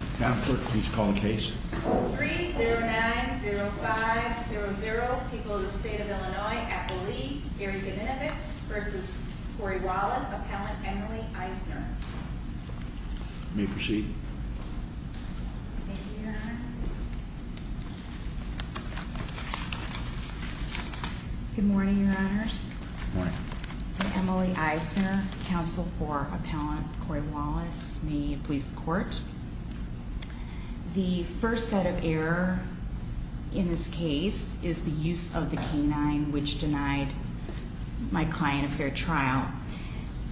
3-0-9-0-5-0-0 People of the State of Illinois at the League, Erica Minovic v. Corey Wallace, Appellant Emily Eisner. You may proceed. Thank you, Your Honor. Good morning, Your Honors. Good morning. I'm Emily Eisner, counsel for Appellant Corey Wallace. May it please the Court. The first set of error in this case is the use of the canine, which denied my client a fair trial.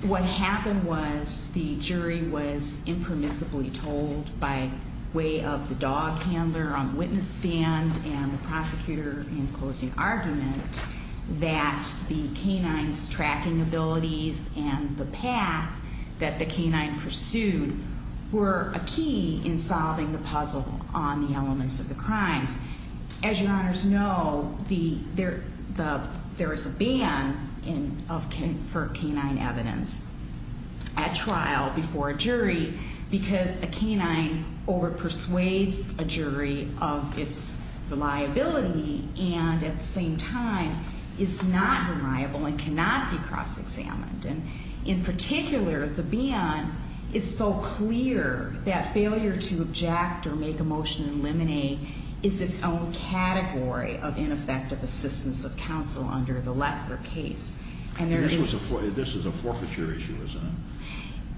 What happened was the jury was impermissibly told by way of the dog handler on the witness stand and the prosecutor in closing argument that the canine's tracking abilities and the path that the canine pursued were a key in solving the puzzle on the elements of the crimes. As Your Honors know, there is a ban for canine evidence at trial before a jury because a canine overpersuades a jury of its reliability and at the same time is not reliable and cannot be cross-examined. In particular, the ban is so clear that failure to object or make a motion to eliminate is its own category of ineffective assistance of counsel under the Lefker case. This is a forfeiture issue, isn't it?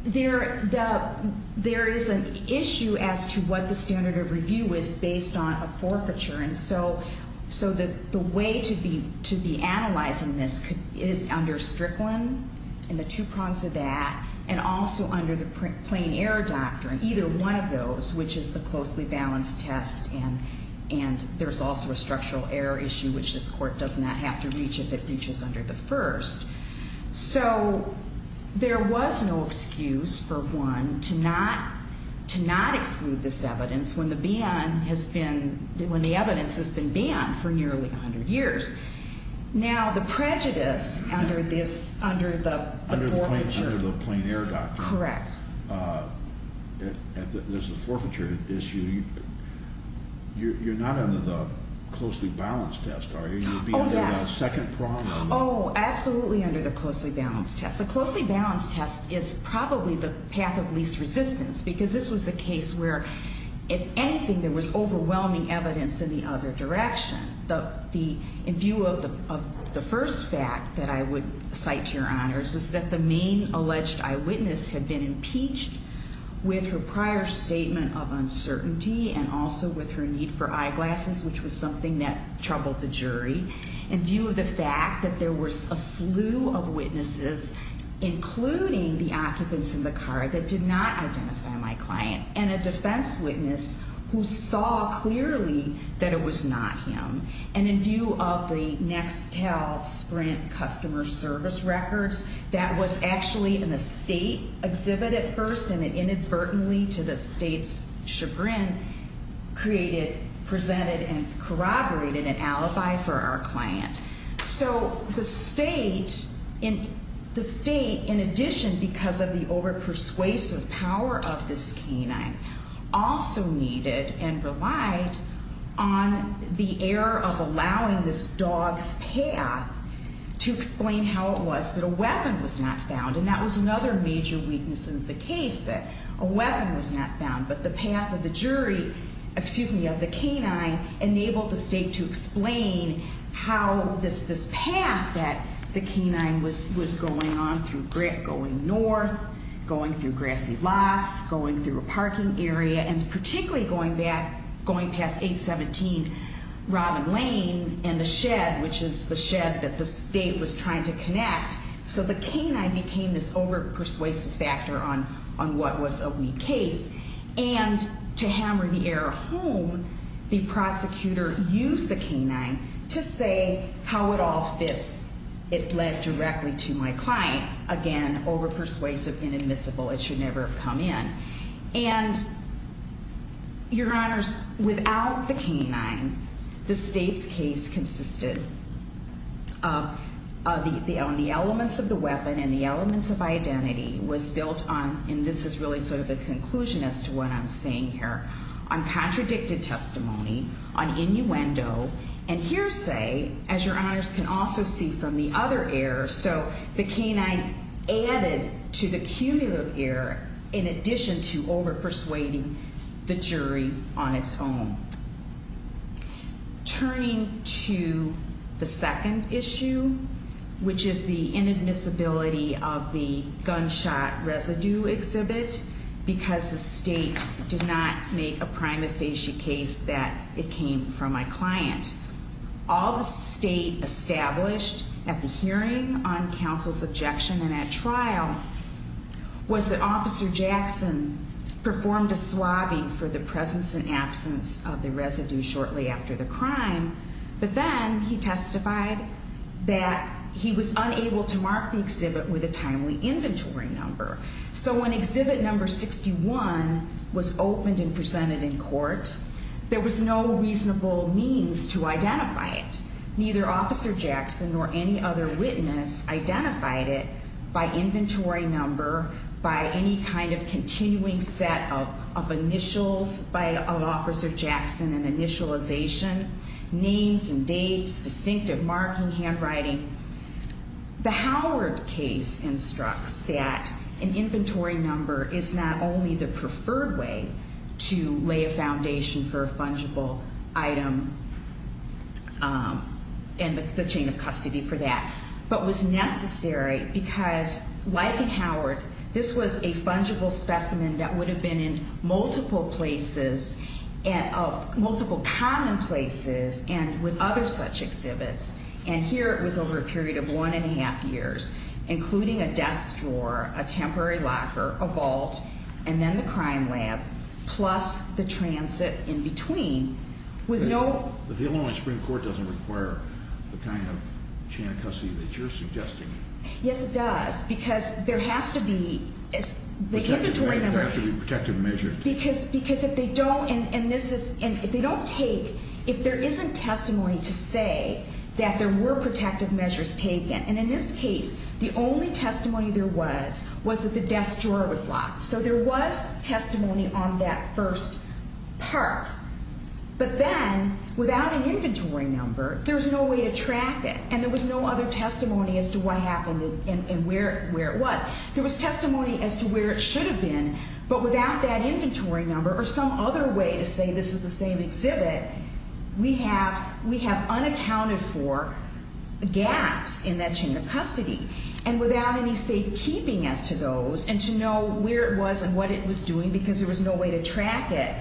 There is an issue as to what the standard of review is based on a forfeiture. And so the way to be analyzing this is under Strickland and the two prongs of that and also under the plain error doctrine, either one of those, which is the closely balanced test and there's also a structural error issue, which this Court does not have to reach if it reaches under the first. So there was no excuse for one to not exclude this evidence when the evidence has been banned for nearly 100 years. Now, the prejudice under the forfeiture. Under the plain error doctrine. Correct. There's a forfeiture issue. You're not under the closely balanced test, are you? Oh, yes. You'll be under the second prong. Oh, absolutely under the closely balanced test. The closely balanced test is probably the path of least resistance because this was a case where, if anything, there was overwhelming evidence in the other direction. In view of the first fact that I would cite to your honors is that the main alleged eyewitness had been impeached with her prior statement of uncertainty and also with her need for eyeglasses, which was something that troubled the jury. In view of the fact that there was a slew of witnesses, including the occupants in the car that did not identify my client and a defense witness who saw clearly that it was not him. And in view of the Nextel Sprint customer service records, that was actually an estate exhibit at first, and it inadvertently to the state's chagrin created, presented, and corroborated an alibi for our client. So the state, in addition, because of the over-persuasive power of this canine, also needed and relied on the error of allowing this dog's path to explain how it was that a weapon was not found. And that was another major weakness of the case, that a weapon was not found, but the path of the jury, excuse me, of the canine enabled the state to explain how this path that the canine was going on through, going north, going through grassy lots, going through a parking area, and particularly going back, going past 817 Robin Lane and the shed, which is the shed that the state was trying to connect. So the canine became this over-persuasive factor on what was a weak case. And to hammer the error home, the prosecutor used the canine to say how it all fits. It led directly to my client. Again, over-persuasive, inadmissible. It should never have come in. And, Your Honors, without the canine, the state's case consisted of the elements of the weapon and the elements of identity was built on, and this is really sort of the conclusion as to what I'm saying here, on contradicted testimony, on innuendo. And hearsay, as Your Honors can also see from the other error, so the canine added to the cumulative error in addition to over-persuading the jury on its own. Turning to the second issue, which is the inadmissibility of the gunshot residue exhibit, because the state did not make a prima facie case that it came from my client. All the state established at the hearing on counsel's objection and at trial was that Officer Jackson performed a swabbing for the presence and absence of the residue shortly after the crime, but then he testified that he was unable to mark the exhibit with a timely inventory number. So when exhibit number 61 was opened and presented in court, there was no reasonable means to identify it. Neither Officer Jackson nor any other witness identified it by inventory number, by any kind of continuing set of initials by Officer Jackson and initialization, names and dates, distinctive marking, handwriting. The Howard case instructs that an inventory number is not only the preferred way to lay a foundation for a fungible item and the chain of custody for that. But was necessary because, like in Howard, this was a fungible specimen that would have been in multiple places and of multiple commonplaces and with other such exhibits. And here it was over a period of one and a half years, including a desk drawer, a temporary locker, a vault, and then the crime lab, plus the transit in between. But the Illinois Supreme Court doesn't require the kind of chain of custody that you're suggesting. Yes, it does. Because there has to be the inventory number. There has to be protective measures. Because if they don't, and this is, and if they don't take, if there isn't testimony to say that there were protective measures taken. And in this case, the only testimony there was, was that the desk drawer was locked. So there was testimony on that first part. But then, without an inventory number, there's no way to track it. And there was no other testimony as to what happened and where it was. There was testimony as to where it should have been. But without that inventory number or some other way to say this is the same exhibit, we have unaccounted for gaps in that chain of custody. And without any safekeeping as to those, and to know where it was and what it was doing, because there was no way to track it,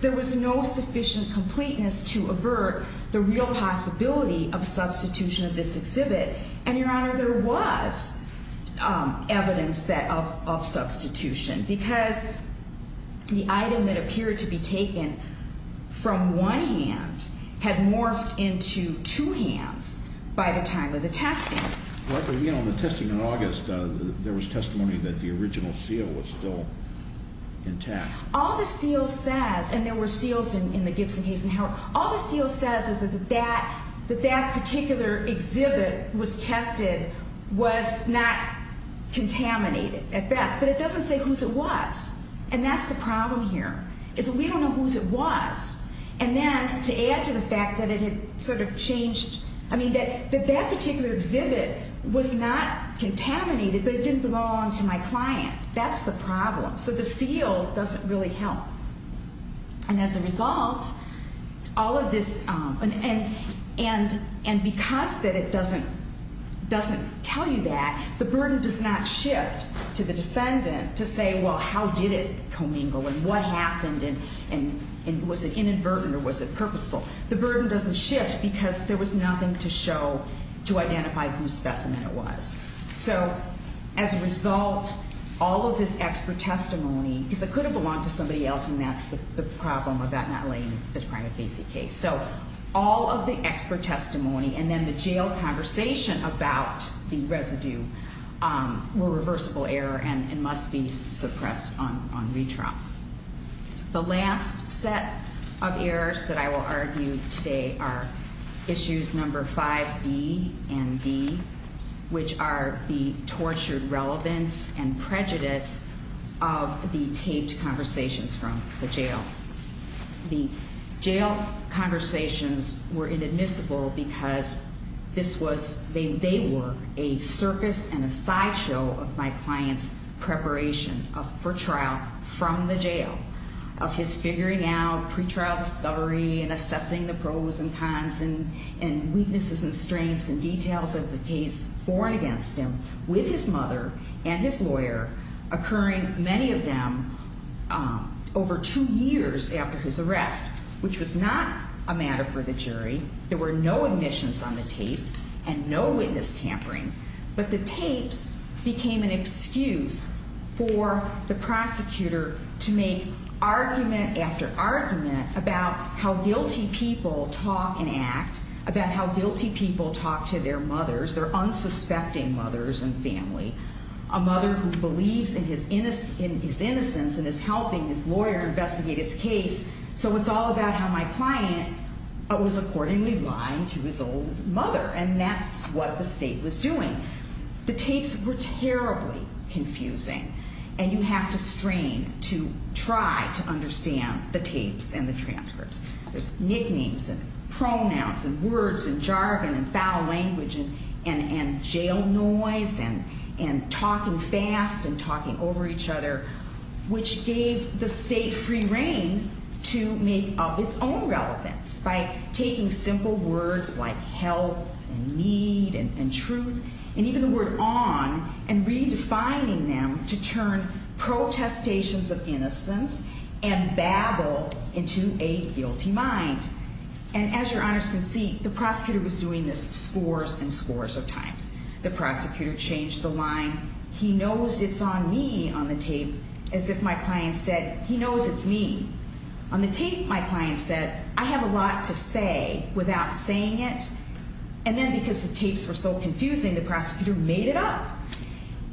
there was no sufficient completeness to avert the real possibility of substitution of this exhibit. And, Your Honor, there was evidence of substitution. Because the item that appeared to be taken from one hand had morphed into two hands by the time of the testing. But, you know, the testing in August, there was testimony that the original seal was still intact. All the seal says, and there were seals in the Gibson, Hayes, and Howard, all the seal says is that that particular exhibit was tested, was not contaminated at best. But it doesn't say whose it was. And that's the problem here, is that we don't know whose it was. And then, to add to the fact that it had sort of changed, I mean, that that particular exhibit was not contaminated, but it didn't belong to my client. That's the problem. So the seal doesn't really help. And as a result, all of this, and because that it doesn't tell you that, the burden does not shift to the defendant to say, well, how did it commingle and what happened and was it inadvertent or was it purposeful. The burden doesn't shift because there was nothing to show to identify whose specimen it was. So, as a result, all of this expert testimony, because it could have belonged to somebody else, and that's the problem of that not letting you describe a basic case. So all of the expert testimony and then the jail conversation about the residue were reversible error and must be suppressed on retrial. The last set of errors that I will argue today are issues number 5B and D, which are the tortured relevance and prejudice of the taped conversations from the jail. The jail conversations were inadmissible because this was, they were a circus and a sideshow of my client's preparation for trial from the jail, of his figuring out pre-trial discovery and assessing the pros and cons and weaknesses and strengths and details of the case for and against him with his mother and his lawyer, occurring, many of them, over two years after his arrest, which was not a matter for the jury. There were no admissions on the tapes and no witness tampering, but the tapes became an excuse for the prosecutor to make argument after argument about how guilty people talk and act, about how guilty people talk to their mothers, their unsuspecting mothers and family, a mother who believes in his innocence and is helping his lawyer investigate his case. So it's all about how my client was accordingly lying to his old mother, and that's what the state was doing. The tapes were terribly confusing, and you have to strain to try to understand the tapes and the transcripts. There's nicknames and pronouns and words and jargon and foul language and jail noise and talking fast and talking over each other, which gave the state free reign to make up its own relevance by taking simple words like help and need and truth and even the word on and redefining them to turn protestations of innocence and babble into a guilty mind. And as your honors can see, the prosecutor was doing this scores and scores of times. The prosecutor changed the line. He knows it's on me on the tape as if my client said he knows it's me. On the tape, my client said, I have a lot to say without saying it. And then because the tapes were so confusing, the prosecutor made it up.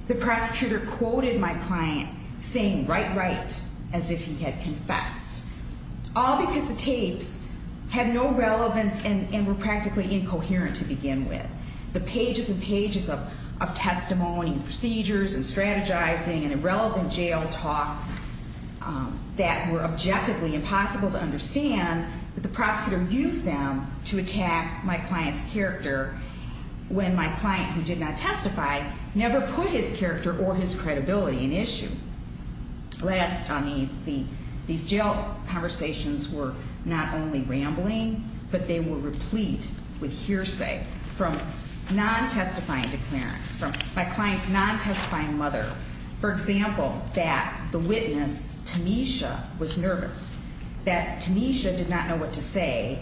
The prosecutor quoted my client saying right, right as if he had confessed, all because the tapes had no relevance and were practically incoherent to begin with. The pages and pages of testimony and procedures and strategizing and irrelevant jail talk that were objectively impossible to understand, but the prosecutor used them to attack my client's character when my client, who did not testify, never put his character or his credibility in issue. Last on these, these jail conversations were not only rambling, but they were replete with hearsay from non-testifying declarants, from my client's non-testifying mother. For example, that the witness, Tamisha, was nervous, that Tamisha did not know what to say.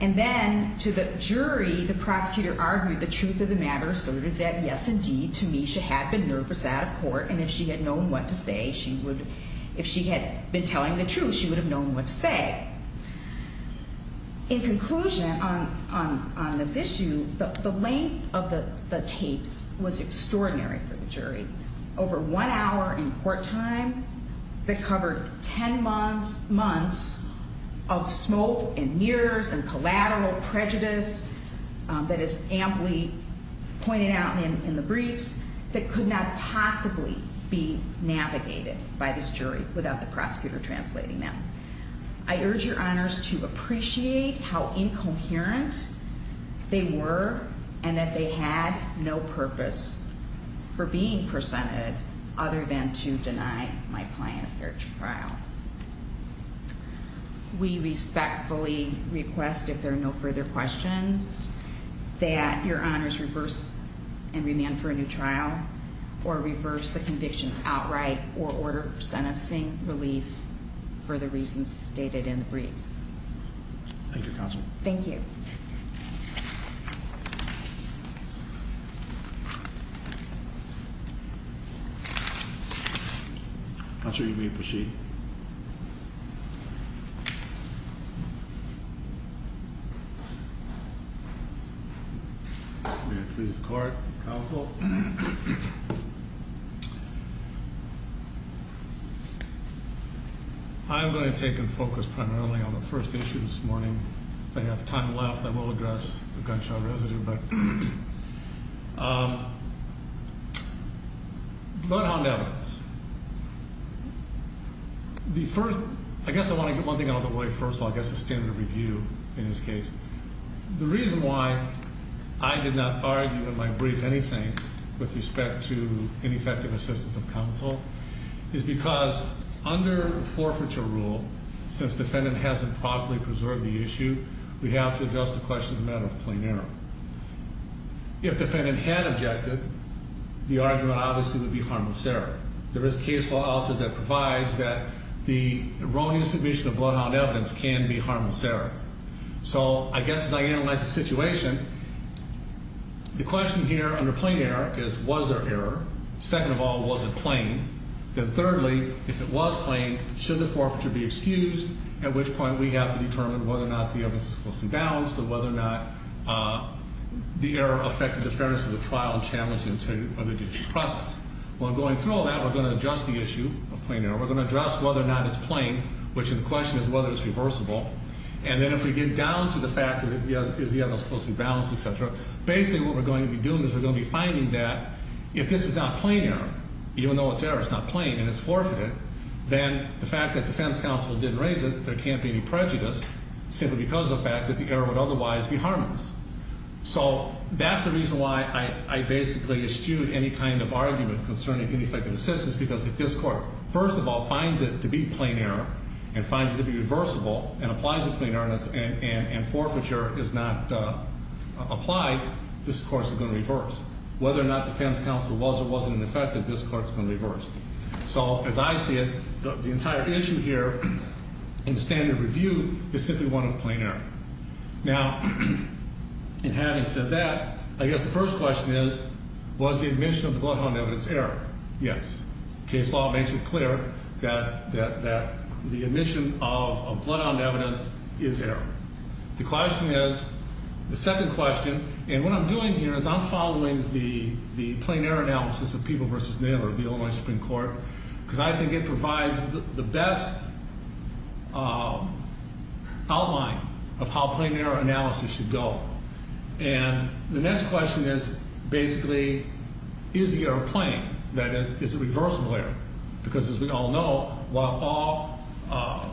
And then to the jury, the prosecutor argued the truth of the matter, asserted that, yes, indeed, Tamisha had been nervous out of court. And if she had known what to say, she would, if she had been telling the truth, she would have known what to say. In conclusion on this issue, the length of the tapes was extraordinary for the jury. Over one hour in court time that covered 10 months of smoke and mirrors and collateral prejudice that is amply pointed out in the briefs, that could not possibly be navigated by this jury without the prosecutor translating them. I urge your honors to appreciate how incoherent they were and that they had no purpose for being presented other than to deny my client a fair trial. We respectfully request, if there are no further questions, that your honors reverse and remand for a new trial, or reverse the convictions outright, or order sentencing relief for the reasons stated in the briefs. Thank you, Counsel. Thank you. I'm not sure you can read the sheet. May it please the Court, Counsel. I'm going to take and focus primarily on the first issue this morning. If I have time left, I will address the gunshot residue. But without hounding evidence. The first, I guess I want to get one thing out of the way first of all, I guess the standard of review in this case. The reason why I did not argue in my brief anything with respect to ineffective assistance of counsel, is because under forfeiture rule, since defendant hasn't properly preserved the issue, we have to address the question as a matter of plain error. If defendant had objected, the argument obviously would be harmless error. There is case law out there that provides that the erroneous submission of bloodhound evidence can be harmless error. So, I guess as I analyze the situation, the question here under plain error is, was there error? Second of all, was it plain? Then thirdly, if it was plain, should the forfeiture be excused? At which point we have to determine whether or not the evidence is closely balanced, or whether or not the error affected the fairness of the trial and challenged the integrity of the judicial process. While going through all that, we're going to address the issue of plain error. We're going to address whether or not it's plain, which in question is whether it's reversible. And then if we get down to the fact that is the evidence closely balanced, etc., basically what we're going to be doing is we're going to be finding that if this is not plain error, even though it's error, it's not plain and it's forfeited, then the fact that defense counsel didn't raise it, there can't be any prejudice simply because of the fact that the error would otherwise be harmless. So, that's the reason why I basically eschewed any kind of argument concerning ineffective assistance, because if this court, first of all, finds it to be plain error and finds it to be reversible and applies a plain error and forfeiture is not applied, this court is going to reverse. Whether or not defense counsel was or wasn't ineffective, this court is going to reverse. So, as I see it, the entire issue here in the standard review is simply one of plain error. Now, in having said that, I guess the first question is, was the admission of the bloodhound evidence error? Yes. Case law makes it clear that the admission of bloodhound evidence is error. The question is, the second question, and what I'm doing here is I'm following the plain error analysis of People v. Naylor of the Illinois Supreme Court, because I think it provides the best outline of how plain error analysis should go. And the next question is, basically, is the error plain? That is, is it reversible error? Because as we all know, while all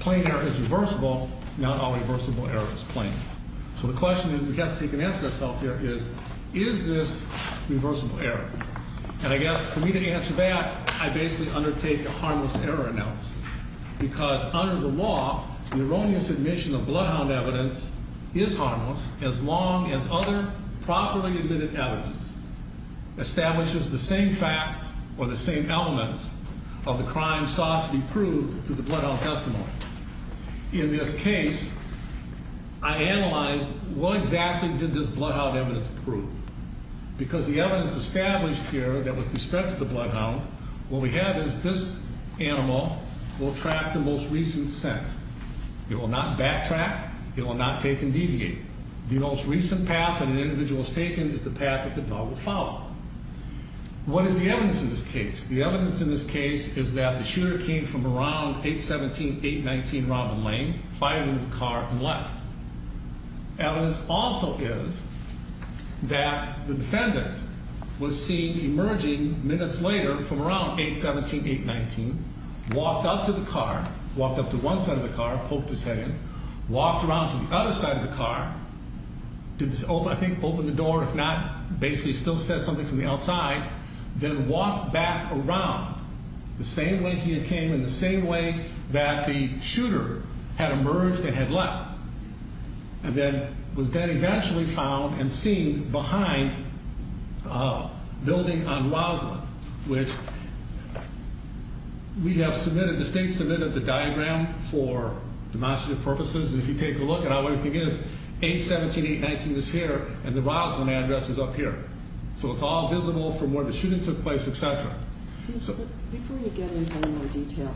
plain error is reversible, not all reversible error is plain. So, the question that we have to take and answer ourselves here is, is this reversible error? And I guess for me to answer that, I basically undertake a harmless error analysis, because under the law, the erroneous admission of bloodhound evidence is harmless as long as other properly admitted evidence establishes the same facts or the same elements of the crime sought to be proved to the bloodhound testimony. In this case, I analyzed what exactly did this bloodhound evidence prove? Because the evidence established here that with respect to the bloodhound, what we have is this animal will track the most recent scent. It will not backtrack. It will not take and deviate. The most recent path that an individual has taken is the path that the dog will follow. What is the evidence in this case? The evidence in this case is that the shooter came from around 817, 819 Robin Lane, fired into the car, and left. The evidence also is that the defendant was seen emerging minutes later from around 817, 819, walked up to the car, walked up to one side of the car, poked his head in, walked around to the other side of the car, did this, I think, open the door, if not, basically still said something from the outside, then walked back around the same way he had came and the same way that the shooter had emerged and had left. And then was then eventually found and seen behind a building on Roslyn, which we have submitted, the state submitted the diagram for demonstrative purposes, and if you take a look at how everything is, 817, 819 is here, and the Roslyn address is up here. So it's all visible from where the shooting took place, et cetera. Before you get into any more detail,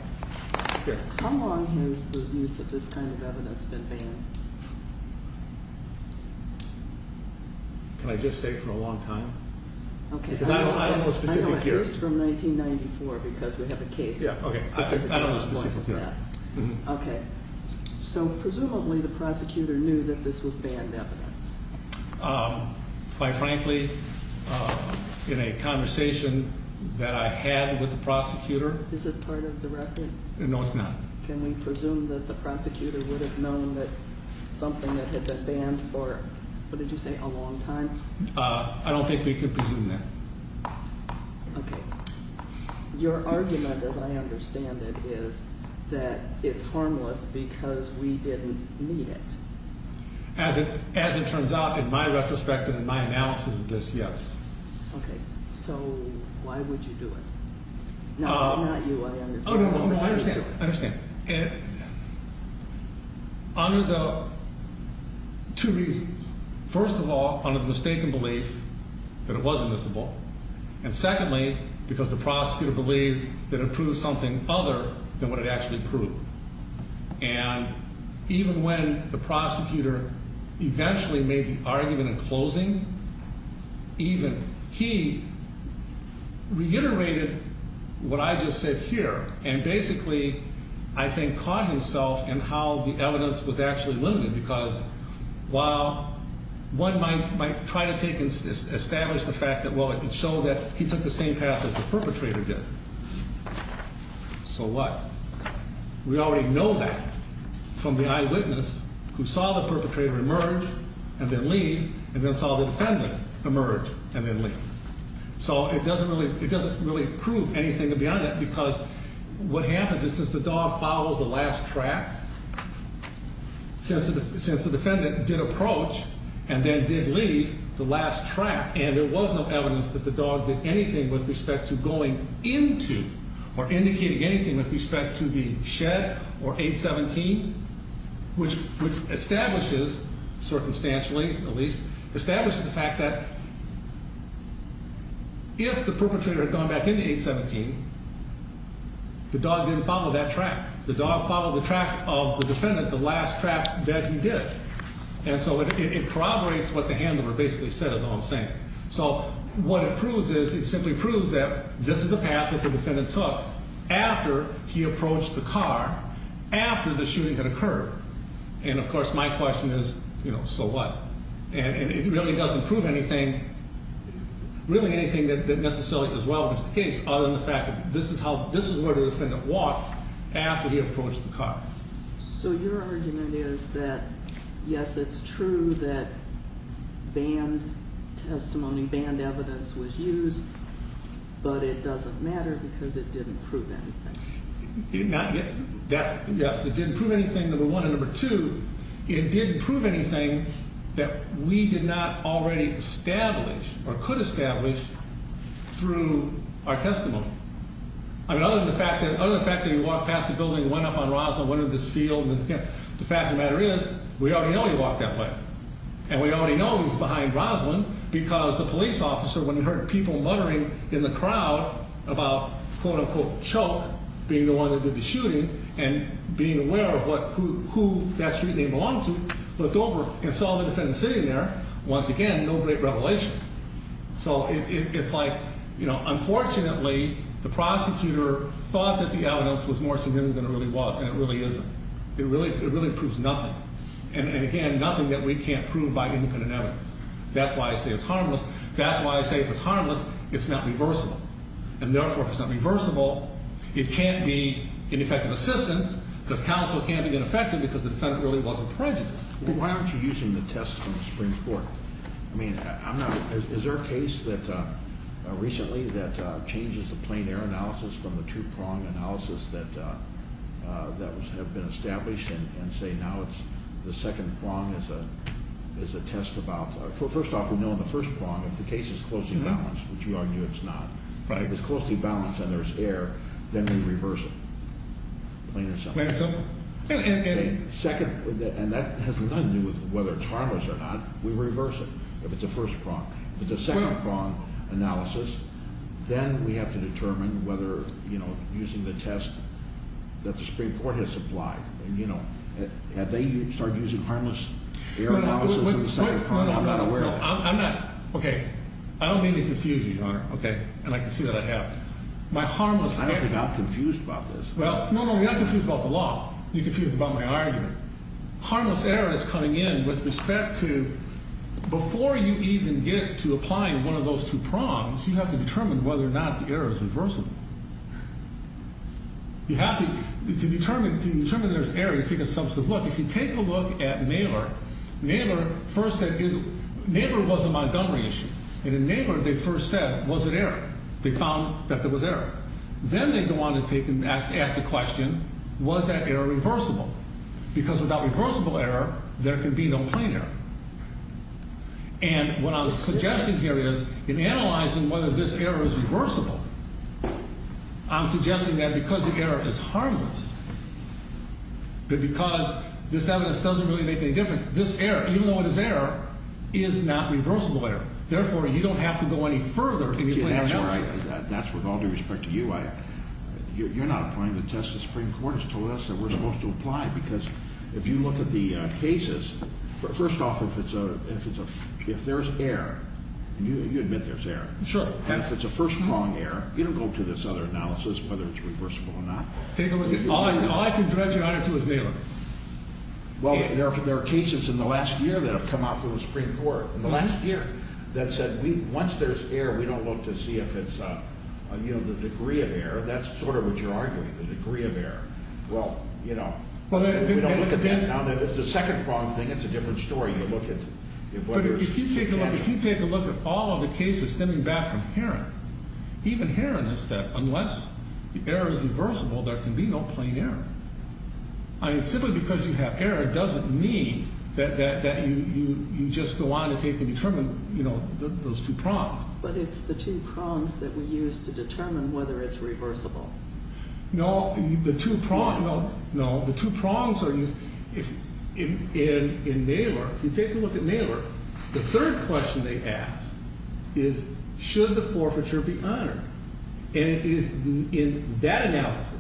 how long has the use of this kind of evidence been banned? Can I just say for a long time? Okay. Because I don't know a specific year. I don't know, at least from 1994, because we have a case. Yeah, okay, I don't know a specific year. Okay. So presumably the prosecutor knew that this was banned evidence. Quite frankly, in a conversation that I had with the prosecutor. Is this part of the record? No, it's not. Can we presume that the prosecutor would have known that something that had been banned for, what did you say, a long time? I don't think we could presume that. Okay. Your argument, as I understand it, is that it's harmless because we didn't need it. As it turns out, in my retrospect and in my analysis of this, yes. Okay. So why would you do it? Now, I'm not you. I understand. Oh, no, no, I understand. I understand. Under the, two reasons. First of all, under the mistaken belief that it was admissible. And secondly, because the prosecutor believed that it proved something other than what it actually proved. And even when the prosecutor eventually made the argument in closing, even he reiterated what I just said here. And basically, I think, caught himself in how the evidence was actually limited. Because while one might try to take and establish the fact that, well, it showed that he took the same path as the perpetrator did. So what? We already know that from the eyewitness who saw the perpetrator emerge and then leave. And then saw the defendant emerge and then leave. So it doesn't really prove anything beyond that. Because what happens is since the dog follows the last track, since the defendant did approach and then did leave the last track. And there was no evidence that the dog did anything with respect to going into or indicating anything with respect to the shed or 817. Which establishes, circumstantially at least, establishes the fact that if the perpetrator had gone back into 817, the dog didn't follow that track. The dog followed the track of the defendant, the last track that he did. And so it corroborates what the handler basically said is all I'm saying. So what it proves is, it simply proves that this is the path that the defendant took after he approached the car, after the shooting had occurred. And of course, my question is, you know, so what? And it really doesn't prove anything, really anything that necessarily is relevant to the case. Other than the fact that this is how, this is where the defendant walked after he approached the car. So your argument is that, yes, it's true that banned testimony, banned evidence was used. But it doesn't matter because it didn't prove anything. Yes, it didn't prove anything, number one. And number two, it didn't prove anything that we did not already establish or could establish through our testimony. I mean, other than the fact that he walked past the building, went up on Roslyn, went into this field. The fact of the matter is, we already know he walked that way. And we already know he was behind Roslyn because the police officer, when he heard people muttering in the crowd about, quote unquote, Choke, being the one that did the shooting, and being aware of who that street they belonged to, looked over and saw the defendant sitting there. Once again, no great revelation. So it's like, unfortunately, the prosecutor thought that the evidence was more significant than it really was, and it really isn't. It really proves nothing. And again, nothing that we can't prove by independent evidence. That's why I say it's harmless. That's why I say if it's harmless, it's not reversible. And therefore, if it's not reversible, it can't be ineffective assistance because counsel can't be ineffective because the defendant really wasn't prejudiced. Why aren't you using the test from the Supreme Court? I mean, is there a case recently that changes the plain air analysis from the two-prong analysis that have been established and say now it's the second prong is a test about? First off, we know in the first prong, if the case is closely balanced, which we argue it's not, if it's closely balanced and there's air, then we reverse it. Plain and simple. Plain and simple. And that has nothing to do with whether it's harmless or not. We reverse it if it's a first prong. If it's a second-prong analysis, then we have to determine whether using the test that the Supreme Court has supplied. Had they started using harmless air analysis in the second prong, I'm not aware of that. I'm not. Okay. I don't mean to confuse you, Your Honor. Okay. And I can see that I have. I don't think I'm confused about this. Well, no, no, you're not confused about the law. You're confused about my argument. Harmless air is coming in with respect to before you even get to applying one of those two prongs, you have to determine whether or not the air is reversible. You have to determine if there's air. You take a substantive look. If you take a look at Naylor, Naylor first said, Naylor was a Montgomery issue. And in Naylor, they first said, was it air? They found that there was air. Then they go on to ask the question, was that air reversible? Because without reversible air, there can be no plain air. And what I'm suggesting here is, in analyzing whether this air is reversible, I'm suggesting that because the air is harmless, but because this evidence doesn't really make any difference, this air, even though it is air, is not reversible air. Therefore, you don't have to go any further in your plain air analysis. That's right. That's with all due respect to you. You're not applying the test the Supreme Court has told us that we're supposed to apply, because if you look at the cases, first off, if there's air, you admit there's air. Sure. And if it's a first prong air, you don't go to this other analysis, whether it's reversible or not. All I can dredge your honor to is Naylor. Well, there are cases in the last year that have come out from the Supreme Court, in the last year, that said once there's air, we don't look to see if it's the degree of air. That's sort of what you're arguing, the degree of air. Well, you know, we don't look at that. Now, if it's a second prong thing, it's a different story. If you take a look at all of the cases stemming back from Herron, even Herron has said unless the air is reversible, there can be no plain air. I mean, simply because you have air doesn't mean that you just go on to take and determine, you know, those two prongs. But it's the two prongs that we use to determine whether it's reversible. No, the two prongs are used. In Naylor, if you take a look at Naylor, the third question they ask is should the forfeiture be honored? And it is in that analysis.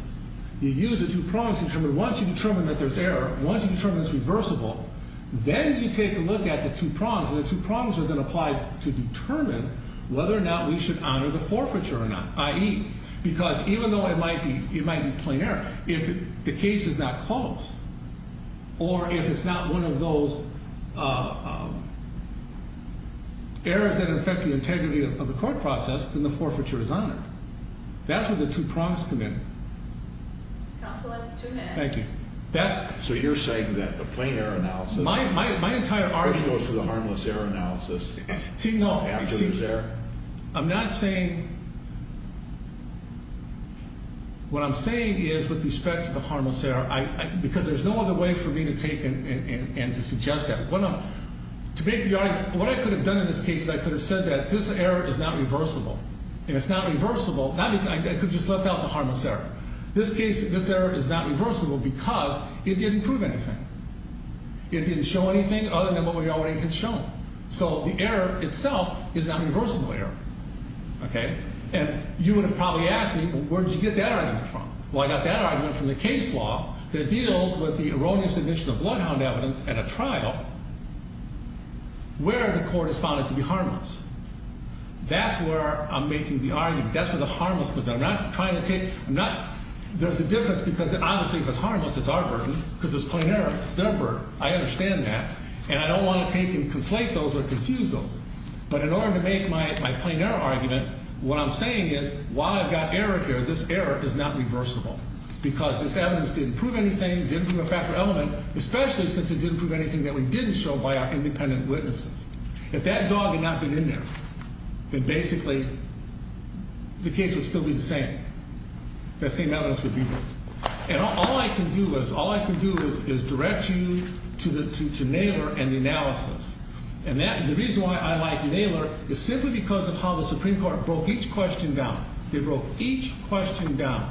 You use the two prongs to determine once you determine that there's air, once you determine it's reversible, then you take a look at the two prongs. And the two prongs are then applied to determine whether or not we should honor the forfeiture or not, i.e., because even though it might be plain air, if the case is not closed, or if it's not one of those errors that affect the integrity of the court process, then the forfeiture is honored. That's where the two prongs come in. Counsel, that's two minutes. Thank you. So you're saying that the plain air analysis goes to the harmless air analysis after there's air? I'm not saying, what I'm saying is with respect to the harmless air, because there's no other way for me to take and to suggest that. To make the argument, what I could have done in this case is I could have said that this error is not reversible. And it's not reversible, I could have just left out the harmless error. This error is not reversible because it didn't prove anything. It didn't show anything other than what we already had shown. So the error itself is not a reversible error. Okay? And you would have probably asked me, where did you get that argument from? Well, I got that argument from the case law that deals with the erroneous admission of bloodhound evidence at a trial where the court has found it to be harmless. That's where I'm making the argument. That's where the harmless goes in. I'm not trying to take – I'm not – there's a difference because obviously if it's harmless, it's our burden because it's plain air. It's their burden. I understand that. And I don't want to take and conflate those or confuse those. But in order to make my plain air argument, what I'm saying is while I've got error here, this error is not reversible because this evidence didn't prove anything, didn't prove a factor element, especially since it didn't prove anything that we didn't show by our independent witnesses. If that dog had not been in there, then basically the case would still be the same. That same evidence would be there. And all I can do is – all I can do is direct you to Naylor and the analysis. And the reason why I like Naylor is simply because of how the Supreme Court broke each question down. They broke each question down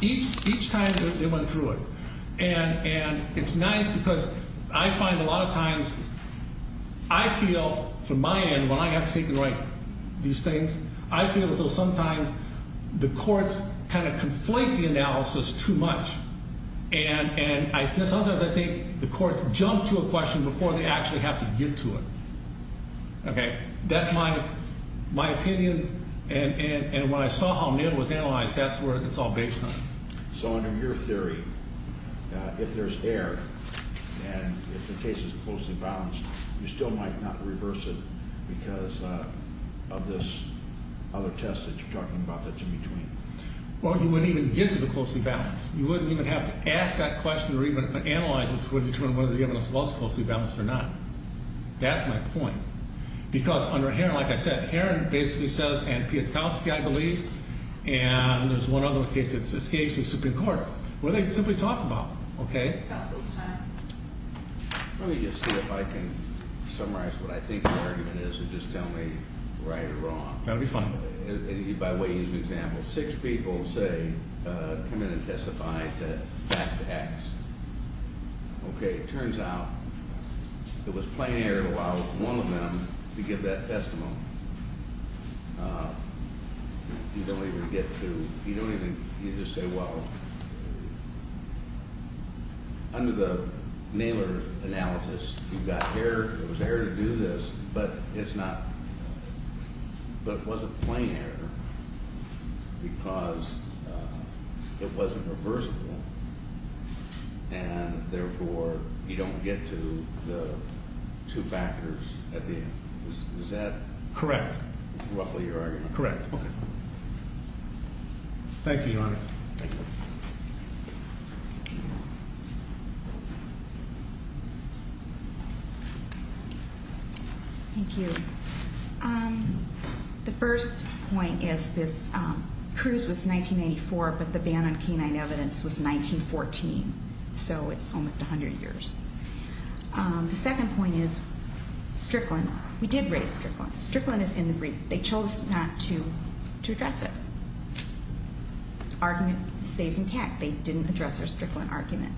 each time they went through it. And it's nice because I find a lot of times I feel from my end when I have to take and write these things, I feel as though sometimes the courts kind of conflate the analysis too much. And sometimes I think the courts jump to a question before they actually have to get to it. Okay? That's my opinion. And when I saw how Naylor was analyzed, that's where it's all based on. So under your theory, if there's error and if the case is closely balanced, you still might not reverse it because of this other test that you're talking about that's in between? Well, you wouldn't even get to the closely balanced. You wouldn't even have to ask that question or even analyze it to determine whether the evidence was closely balanced or not. That's my point. Because under Herron, like I said, Herron basically says and Piotrkowski, I believe, and there's one other case that escapes the Supreme Court where they simply talk about. Okay? Let me just see if I can summarize what I think the argument is and just tell me right or wrong. That would be fine. By way of example, six people say come in and testify back to X. Okay. It turns out it was plain error to allow one of them to give that testimony. You don't even get to – you don't even – you just say, well, under the Naylor analysis, you've got error. It was error to do this. But it's not – but it wasn't plain error because it wasn't reversible and, therefore, you don't get to the two factors at the end. Is that – Correct. Roughly your argument? Correct. Okay. Thank you, Your Honor. Thank you. The first point is this – Cruz was 1994, but the ban on canine evidence was 1914, so it's almost 100 years. The second point is Strickland. We did raise Strickland. Strickland is in the brief. They chose not to address it. The argument stays intact. They didn't address their Strickland argument.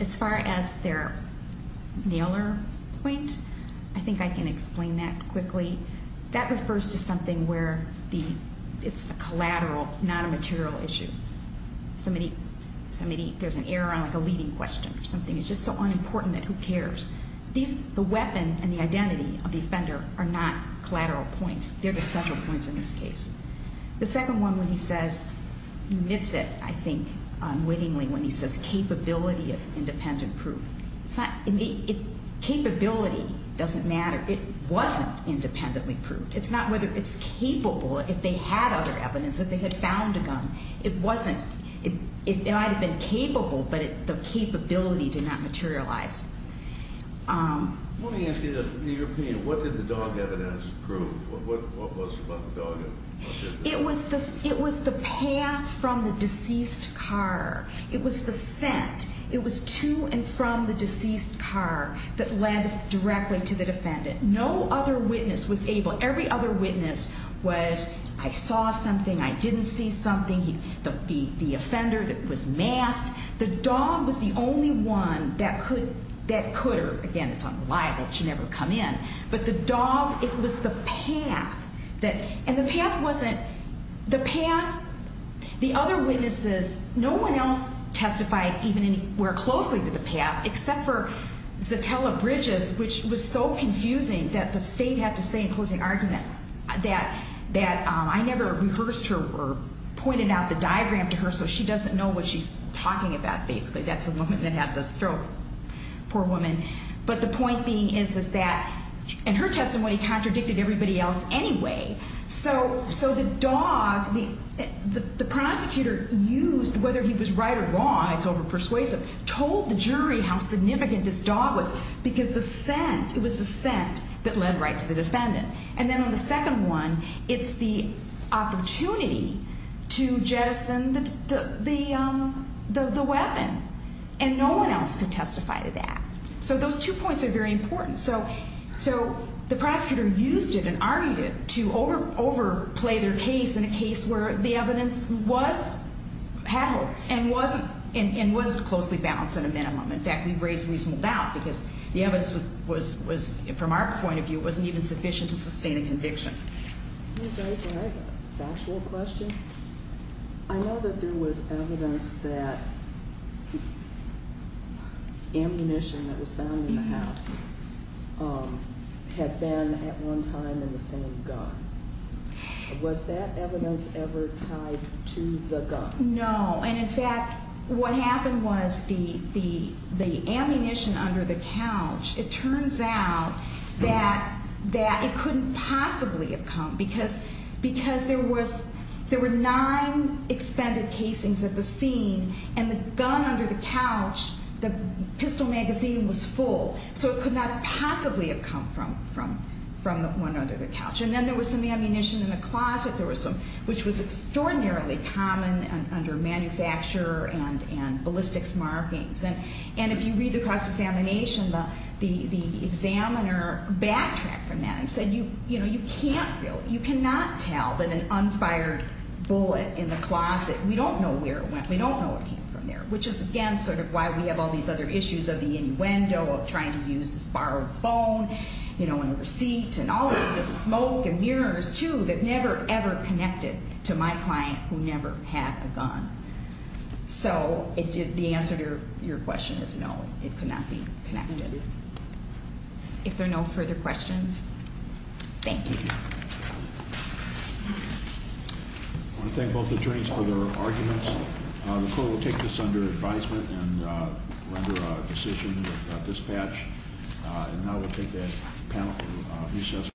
As far as their Naylor point, I think I can explain that quickly. That refers to something where the – it's a collateral, not a material issue. Somebody – there's an error on, like, a leading question or something. It's just so unimportant that who cares? These – the weapon and the identity of the offender are not collateral points. They're the central points in this case. The second one, when he says – he admits it, I think, unwittingly when he says capability of independent proof. It's not – capability doesn't matter. It wasn't independently proved. It's not whether it's capable if they had other evidence, if they had found a gun. It wasn't – it might have been capable, but the capability did not materialize. Let me ask you this. In your opinion, what did the dog evidence prove? What was the dog evidence? It was the – it was the path from the deceased car. It was the scent. It was to and from the deceased car that led directly to the defendant. No other witness was able – every other witness was, I saw something, I didn't see something. The offender was masked. The dog was the only one that could – that could – again, it's unreliable. It should never come in. But the dog, it was the path that – and the path wasn't – the path – the other witnesses, no one else testified even anywhere closely to the path except for Zatella Bridges, which was so confusing that the state had to say in closing argument that I never rehearsed her or pointed out the diagram to her so she doesn't know what she's talking about, basically. That's the woman that had the stroke. Poor woman. But the point being is, is that – and her testimony contradicted everybody else anyway. So the dog, the prosecutor used, whether he was right or wrong, it's over persuasive, told the jury how significant this dog was because the scent, it was the scent that led right to the defendant. And then on the second one, it's the opportunity to jettison the weapon. And no one else could testify to that. So those two points are very important. So the prosecutor used it and argued it to overplay their case in a case where the evidence was had holes and wasn't closely balanced at a minimum. In fact, we've raised reasonable doubt because the evidence was – from our point of view, it wasn't even sufficient to sustain a conviction. Can I ask a factual question? I know that there was evidence that ammunition that was found in the house had been at one time in the same gun. Was that evidence ever tied to the gun? No. And in fact, what happened was the ammunition under the couch, it turns out that it couldn't possibly have come because there were nine expended casings at the scene and the gun under the couch, the pistol magazine was full. So it could not possibly have come from the one under the couch. And then there was some ammunition in the closet, which was extraordinarily common under manufacturer and ballistics markings. And if you read the cross-examination, the examiner backtracked from that and said, you know, you can't really – you cannot tell that an unfired bullet in the closet – we don't know where it went. We don't know what came from there, which is, again, sort of why we have all these other issues of the innuendo of trying to use this borrowed phone, you know, and receipt and all this smoke and mirrors, too, So the answer to your question is no. It could not be connected. If there are no further questions, thank you. I want to thank both attorneys for their arguments. The court will take this under advisement and render a decision with dispatch. And now we'll take a panel recess.